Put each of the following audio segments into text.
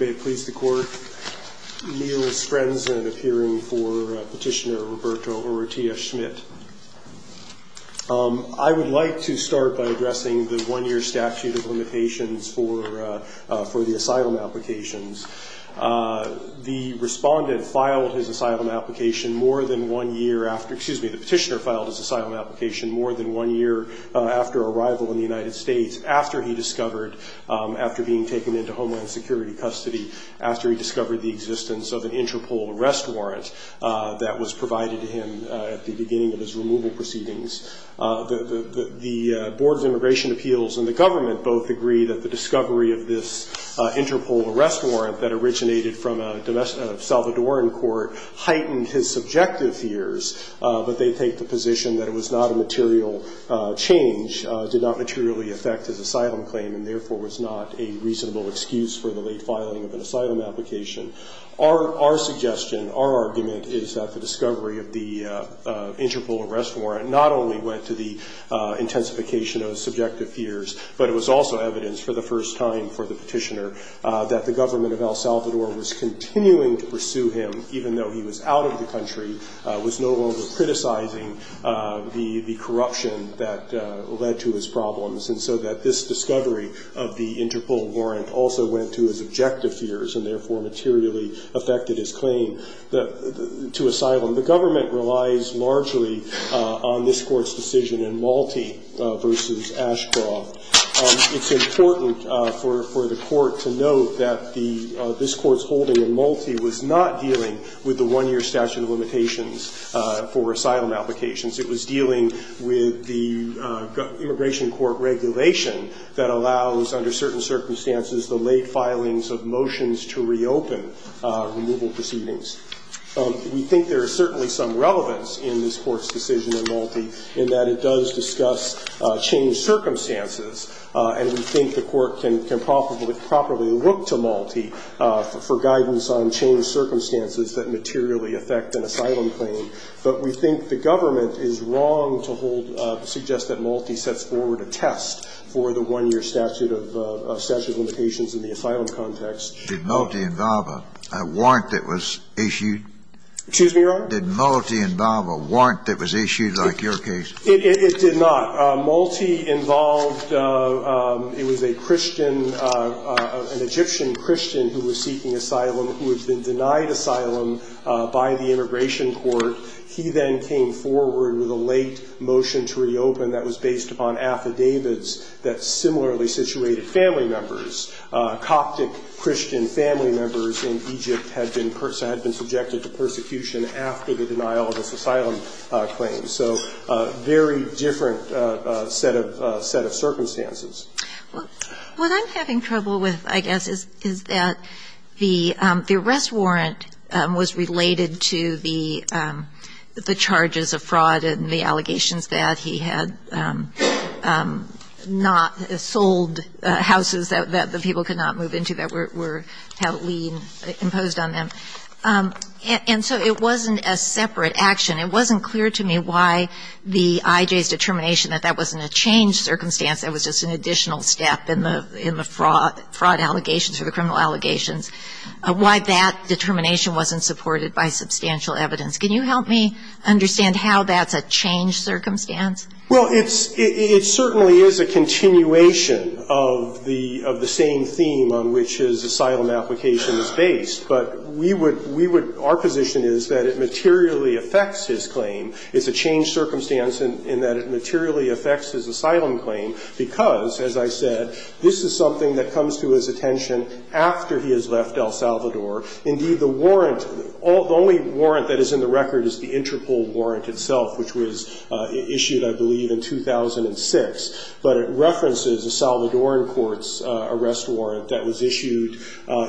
May it please the court. Neil Strensen, appearing for Petitioner Roberto Urrutia-Schmidt. I would like to start by addressing the one-year statute of limitations for the asylum applications. The respondent filed his asylum application more than one year after excuse me, the petitioner filed his asylum application more than one year after arrival in the United States after he discovered, after being taken into Homeland Security custody, after he discovered the existence of an Interpol arrest warrant that was provided to him at the beginning of his removal proceedings. The Board of Immigration Appeals and the government both agree that the discovery of this Interpol arrest warrant that originated from a Salvadoran court heightened his subjective fears that they take the position that it was not a material change, did not materially affect his asylum claim and therefore was not a reasonable excuse for the late filing of an asylum application. Our suggestion, our argument is that the discovery of the Interpol arrest warrant not only went to the intensification of his subjective fears, but it was also evidence for the first time for the petitioner that the government of El Salvador was continuing to pursue him even though he was out of the country, was no longer criticizing the corruption that led to his problems. And so that this discovery of the Interpol warrant also went to his objective fears and therefore materially affected his claim to asylum. The government relies largely on this Court's decision in Malti v. Ashcroft. It's important for the Court to note that this Court's holding in Malti was not dealing with the one-year statute of limitations for asylum applications. It was dealing with the immigration court regulation that allows, under certain circumstances, the late filings of motions to reopen removal proceedings. We think there is certainly some relevance in this Court's decision in Malti in that it does discuss changed circumstances, and we think the Court can properly look to Malti for guidance on changed circumstances that materially affect an asylum claim. But we think the government is wrong to suggest that Malti sets forward a test for the one-year statute of limitations in the asylum context. Did Malti involve a warrant that was issued? Excuse me, Your Honor? Did Malti involve a warrant that was issued like your case? It did not. Malti involved, it was a Christian, an Egyptian Christian who was seeking asylum who had been denied asylum by the immigration court. He then came forward with a late motion to reopen that was based upon affidavits that similarly situated family members. Coptic Christian family members in Egypt had been subjected to persecution after the denial of this asylum claim. So a very different set of circumstances. Well, what I'm having trouble with, I guess, is that the arrest warrant was related to the charges of fraud and the allegations that he had not sold houses that the people could not move into that were heavily imposed on them. And so it wasn't a separate action. It wasn't clear to me why the IJ's determination that that wasn't a changed circumstance, that was just an additional step in the fraud allegations or the criminal allegations, why that determination wasn't supported by substantial evidence. Can you help me understand how that's a changed circumstance? Well, it certainly is a continuation of the same theme on which his asylum application is based. But we would, we would, our position is that it materially affects his claim. It's a changed circumstance in that it materially affects his asylum claim because, as I said, this is something that comes to his attention after he has left El Salvador. Indeed, the warrant, the only warrant that is in the record is the Interpol warrant itself, which was issued, I believe, in 2006. But it references a Salvadoran court's arrest warrant that was issued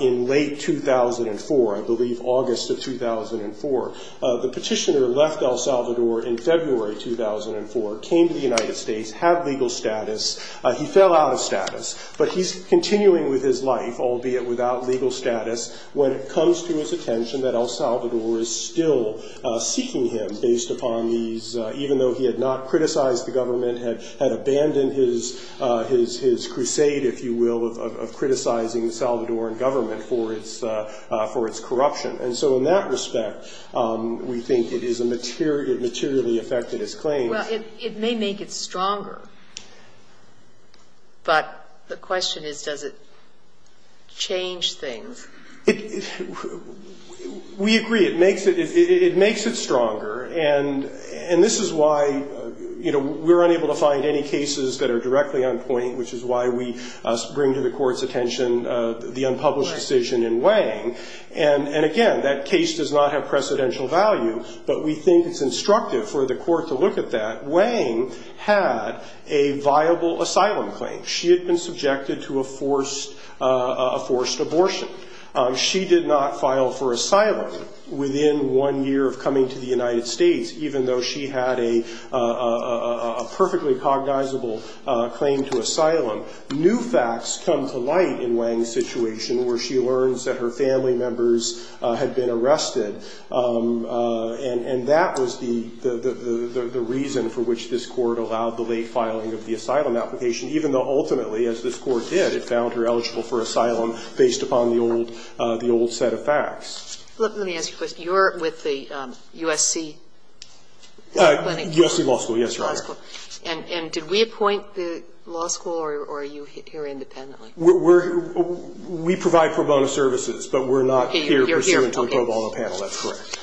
in late 2004, I believe August of 2004. The petitioner left El Salvador in February 2004, came to the United States, had legal status. He fell out of status. But he's continuing with his life, albeit without legal status, when it comes to his attention that El Salvador is still seeking him based upon these, even though he had not criticized the government, had abandoned his, his crusade, if you will, of criticizing the Salvadoran government for its, for its corruption. And so in that respect, we think it is a material, it materially affected his claim. Well, it may make it stronger. But the question is, does it change things? It, we agree. It makes it, it makes it stronger. And, and this is why, you know, we're unable to find any cases that are directly on point, which is why we bring to the court's attention the unpublished decision in Wang. And, and again, that case does not have precedential value. But we think it's instructive for the court to look at that. Wang had a viable asylum claim. She had been subjected to a forced, a forced abortion. She did not file for asylum within one year of coming to the United States, even though she had a, a, a, a perfectly cognizable claim to asylum. New facts come to light in Wang's situation, where she learns that her family members had been arrested. And, and that was the, the, the, the reason for which this court allowed the late filing of the asylum application, even though ultimately, as this court did, it was based upon the old, the old set of facts. Kagan. Let me ask you a question. You're with the U.S.C. Clinic. U.S.C. Law School. Yes, Your Honor. Law School. And, and did we appoint the law school, or are you here independently? We're, we're, we provide pro bono services, but we're not here pursuant to a pro bono panel. Okay. You're here. Okay. That's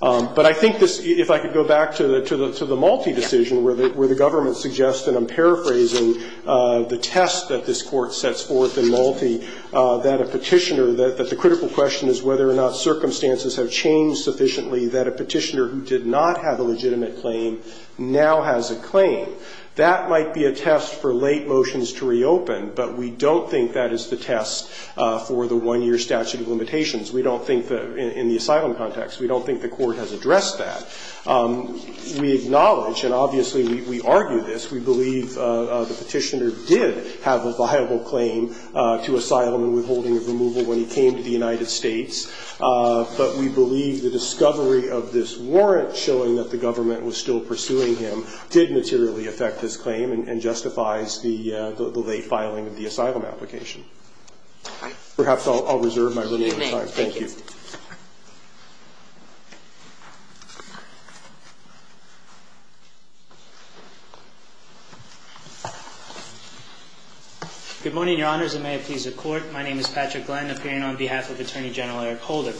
correct. But I think this, if I could go back to the, to the, to the Malte decision, where the, where the government suggests, and I'm paraphrasing the test that this court sets forth in Malte, that a Petitioner, that the critical question is whether or not circumstances have changed sufficiently, that a Petitioner who did not have a legitimate claim now has a claim. That might be a test for late motions to reopen, but we don't think that is the test for the one-year statute of limitations. We don't think that in the asylum context. We don't think the court has addressed that. We acknowledge, and obviously we, we argue this, we believe the Petitioner did have a viable claim to asylum and withholding of removal when he came to the United States, but we believe the discovery of this warrant showing that the government was still pursuing him did materially affect his claim and, and justifies the, the late filing of the asylum application. Perhaps I'll, I'll reserve my remaining time. You may. Thank you. Good morning, Your Honors, and may it please the Court. My name is Patrick Glenn, appearing on behalf of Attorney General Eric Holder.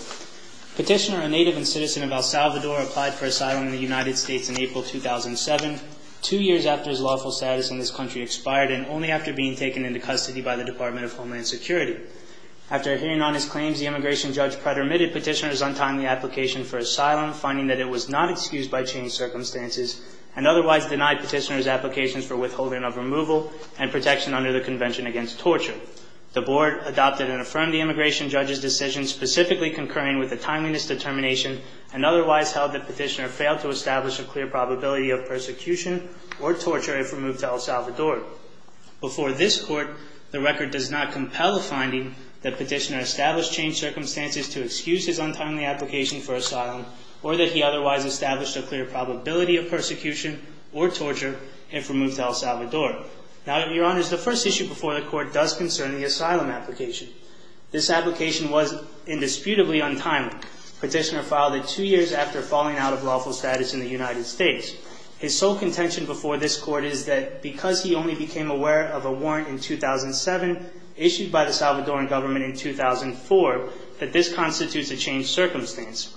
Petitioner, a native and citizen of El Salvador, applied for asylum in the United States in April 2007, two years after his lawful status in this country expired and only after being taken into custody by the Department of Homeland Security. After hearing on his claims, the immigration judge predominated Petitioner's untimely application for asylum, finding that it was not excused by changed circumstances, and otherwise denied Petitioner's applications for withholding of removal and protection under the Convention Against Torture. The Board adopted and affirmed the immigration judge's decision, specifically concurring with the timeliness determination, and otherwise held that Petitioner failed to establish a clear probability of persecution or torture if removed to El Salvador. Before this Court, the record does not compel the finding that Petitioner established changed circumstances to excuse his untimely application for asylum or that he otherwise established a clear probability of persecution or torture if removed to El Salvador. Now, Your Honors, the first issue before the Court does concern the asylum application. This application was indisputably untimely. Petitioner filed it two years after falling out of lawful status in the United States. His sole contention before this Court is that because he only became aware of a warrant in 2007 issued by the Salvadoran government in 2004, that this constitutes a changed circumstance.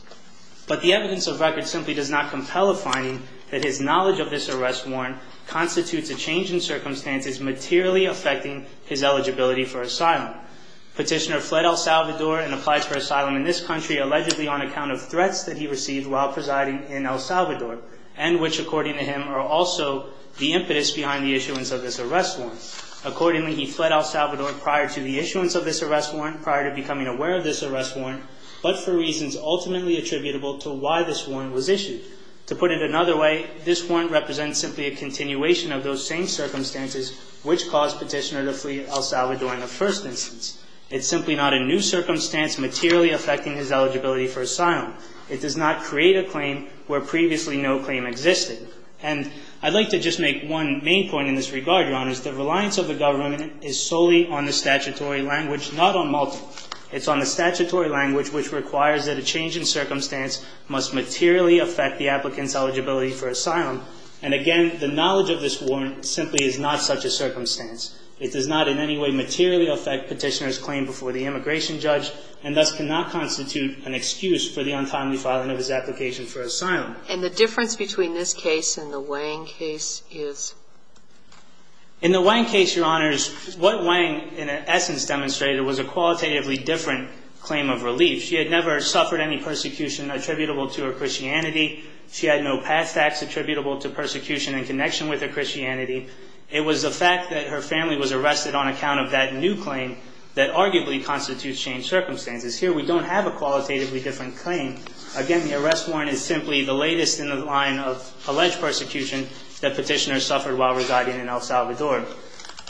But the evidence of record simply does not compel the finding that his knowledge of this arrest warrant constitutes a change in circumstances materially affecting his eligibility for asylum. Petitioner fled El Salvador and applied for asylum in this country allegedly on account of threats that he received while presiding in El Salvador and which, according to him, are also the impetus behind the issuance of this arrest warrant. Accordingly, he fled El Salvador prior to the issuance of this arrest warrant, prior to becoming aware of this arrest warrant, but for reasons ultimately attributable to why this warrant was issued. To put it another way, this warrant represents simply a continuation of those same circumstances which caused Petitioner to flee El Salvador in the first instance. It's simply not a new circumstance materially affecting his eligibility for asylum. It does not create a claim where previously no claim existed. And I'd like to just make one main point in this regard, Your Honors. The reliance of the government is solely on the statutory language, not on multiple. It's on the statutory language which requires that a change in circumstance must materially affect the applicant's eligibility for asylum. And again, the knowledge of this warrant simply is not such a circumstance. It does not in any way materially affect Petitioner's claim before the immigration judge, and thus cannot constitute an excuse for the untimely filing of his application for asylum. And the difference between this case and the Wang case is? In the Wang case, Your Honors, what Wang in essence demonstrated was a qualitatively different claim of relief. She had never suffered any persecution attributable to her Christianity. She had no past acts attributable to persecution in connection with her Christianity. It was the fact that her family was arrested on account of that new claim that arguably constitutes changed circumstances. Here we don't have a qualitatively different claim. Again, the arrest warrant is simply the latest in the line of alleged persecution that Petitioner suffered while residing in El Salvador.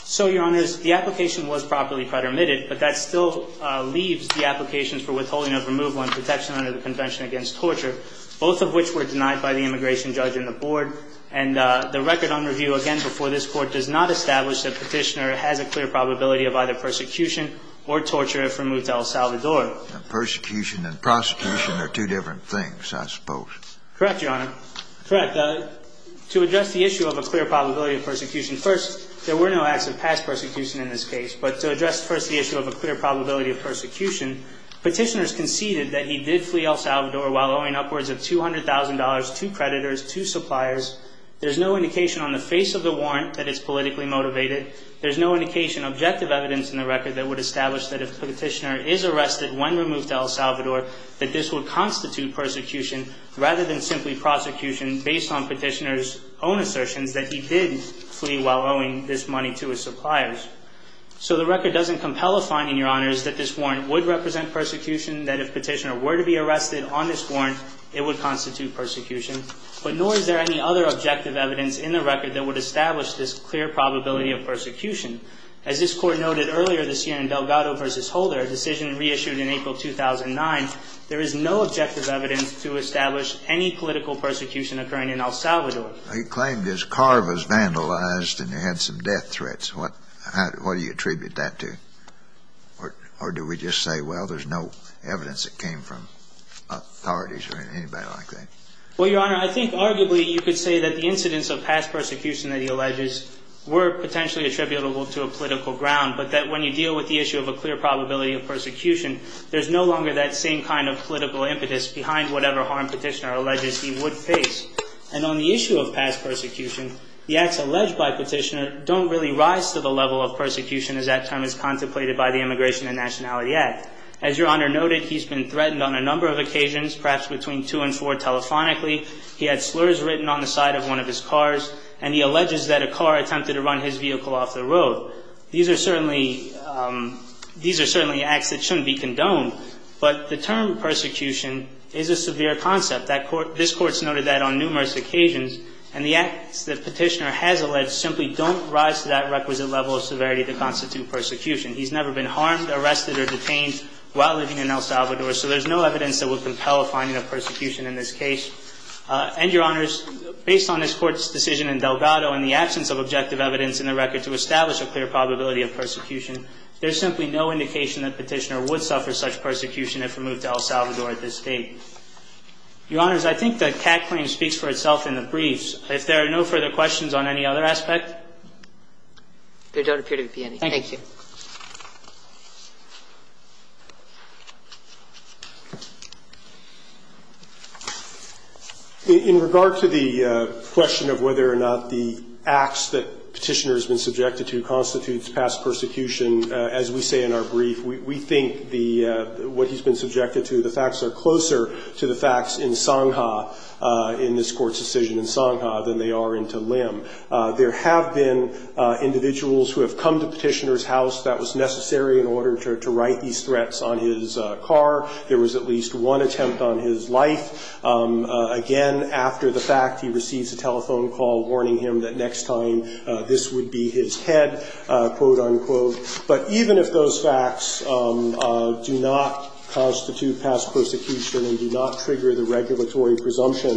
So, Your Honors, the application was properly predominated, but that still leaves the applications for withholding of removal and protection under the Convention Against Torture, both of which were denied by the immigration judge and the board. And the record on review again before this Court does not establish that Petitioner has a clear probability of either persecution or torture if removed to El Salvador. And persecution and prosecution are two different things, I suppose. Correct, Your Honor. Correct. To address the issue of a clear probability of persecution, first, there were no acts of past persecution in this case. But to address first the issue of a clear probability of persecution, Petitioner has conceded that he did flee El Salvador while owing upwards of $200,000 to creditors, to suppliers. There's no indication on the face of the warrant that it's politically motivated. There's no indication, objective evidence in the record, that would establish that if Petitioner is arrested when removed to El Salvador, that this would constitute persecution rather than simply prosecution based on Petitioner's own assertions that he did flee while owing this money to his suppliers. So the record doesn't compel a finding, Your Honors, that this warrant would represent persecution, that if Petitioner were to be arrested on this warrant, it would constitute persecution. But nor is there any other objective evidence in the record that would establish this clear probability of persecution. As this Court noted earlier this year in Delgado v. Holder, a decision reissued in April 2009, there is no objective evidence to establish any political persecution occurring in El Salvador. He claimed his car was vandalized and he had some death threats. What do you attribute that to? Or do we just say, well, there's no evidence that came from authorities or anybody like that? Well, Your Honor, I think arguably you could say that the incidents of past persecution that he alleges were potentially attributable to a political ground, but that when you deal with the issue of a clear probability of persecution, there's no longer that same kind of political impetus behind whatever harm Petitioner alleges he would face. And on the issue of past persecution, the acts alleged by Petitioner don't really rise to the level of persecution as that time is contemplated by the Immigration and Nationality Act. As Your Honor noted, he's been threatened on a number of occasions, perhaps between two and four telephonically. He had slurs written on the side of one of his cars, and he alleges that a car attempted to run his vehicle off the road. These are certainly acts that shouldn't be condoned, but the term persecution is a severe concept. This Court's noted that on numerous occasions, and the acts that Petitioner has alleged simply don't rise to that requisite level of severity to constitute persecution. He's never been harmed, arrested, or detained while living in El Salvador, so there's no evidence that would compel a finding of persecution in this case. And, Your Honors, based on this Court's decision in Delgado and the absence of objective evidence in the record to establish a clear probability of persecution, there's simply no indication that Petitioner would suffer such persecution if removed to El Salvador at this date. Your Honors, I think the CAC claim speaks for itself in the briefs. If there are no further questions on any other aspect? There don't appear to be any. Thank you. In regard to the question of whether or not the acts that Petitioner has been subjected to constitutes past persecution, as we say in our brief, we think the – what he's been subjected to, the facts are closer to the facts in Songha, in this Court's decision in Songha, than they are into Lim. There have been individuals who have come to Petitioner's house, who have come to his house that was necessary in order to right these threats on his car. There was at least one attempt on his life. Again, after the fact, he receives a telephone call warning him that next time this would be his head, quote, unquote. But even if those facts do not constitute past persecution and do not trigger the regulatory presumption,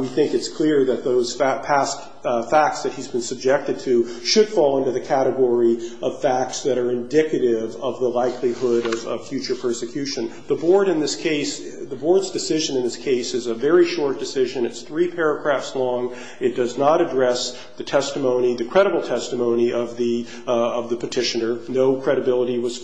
we think it's clear that those past facts that he's been subjected to are facts that are indicative of the likelihood of future persecution. The Board in this case – the Board's decision in this case is a very short decision. It's three paragraphs long. It does not address the testimony, the credible testimony of the Petitioner. No credibility was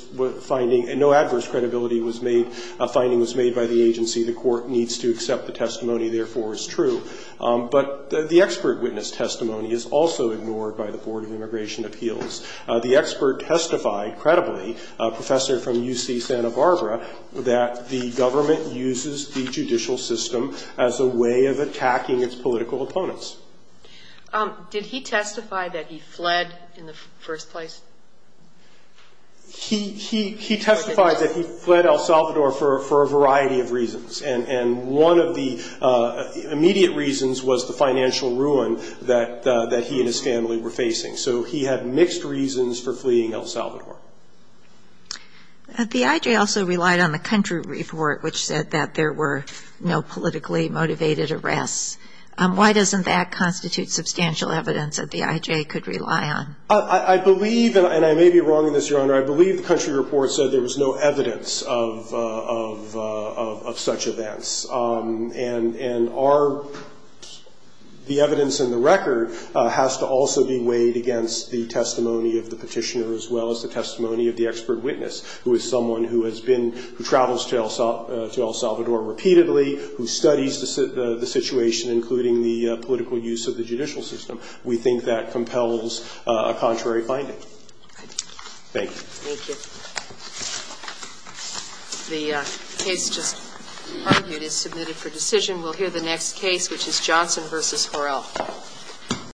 finding – no adverse credibility was made – finding was made by the agency. The Court needs to accept the testimony. Therefore, it's true. But the expert witness testimony is also ignored by the Board of Immigration Appeals. The expert testified, credibly, a professor from UC Santa Barbara, that the government uses the judicial system as a way of attacking its political opponents. Did he testify that he fled in the first place? He testified that he fled El Salvador for a variety of reasons. And one of the immediate reasons was the financial ruin that he and his family were facing. So he had mixed reasons for fleeing El Salvador. The IJ also relied on the country report, which said that there were no politically motivated arrests. Why doesn't that constitute substantial evidence that the IJ could rely on? I believe – and I may be wrong in this, Your Honor – I believe the country report said there was no evidence of such events. And our – the evidence in the record has to also be weighed against the testimony of the petitioner as well as the testimony of the expert witness, who is someone who has been – who travels to El Salvador repeatedly, who studies the situation, including the political use of the judicial system. We think that compels a contrary finding. Thank you. Thank you. The case just argued is submitted for decision. We'll hear the next case, which is Johnson v. Horrell.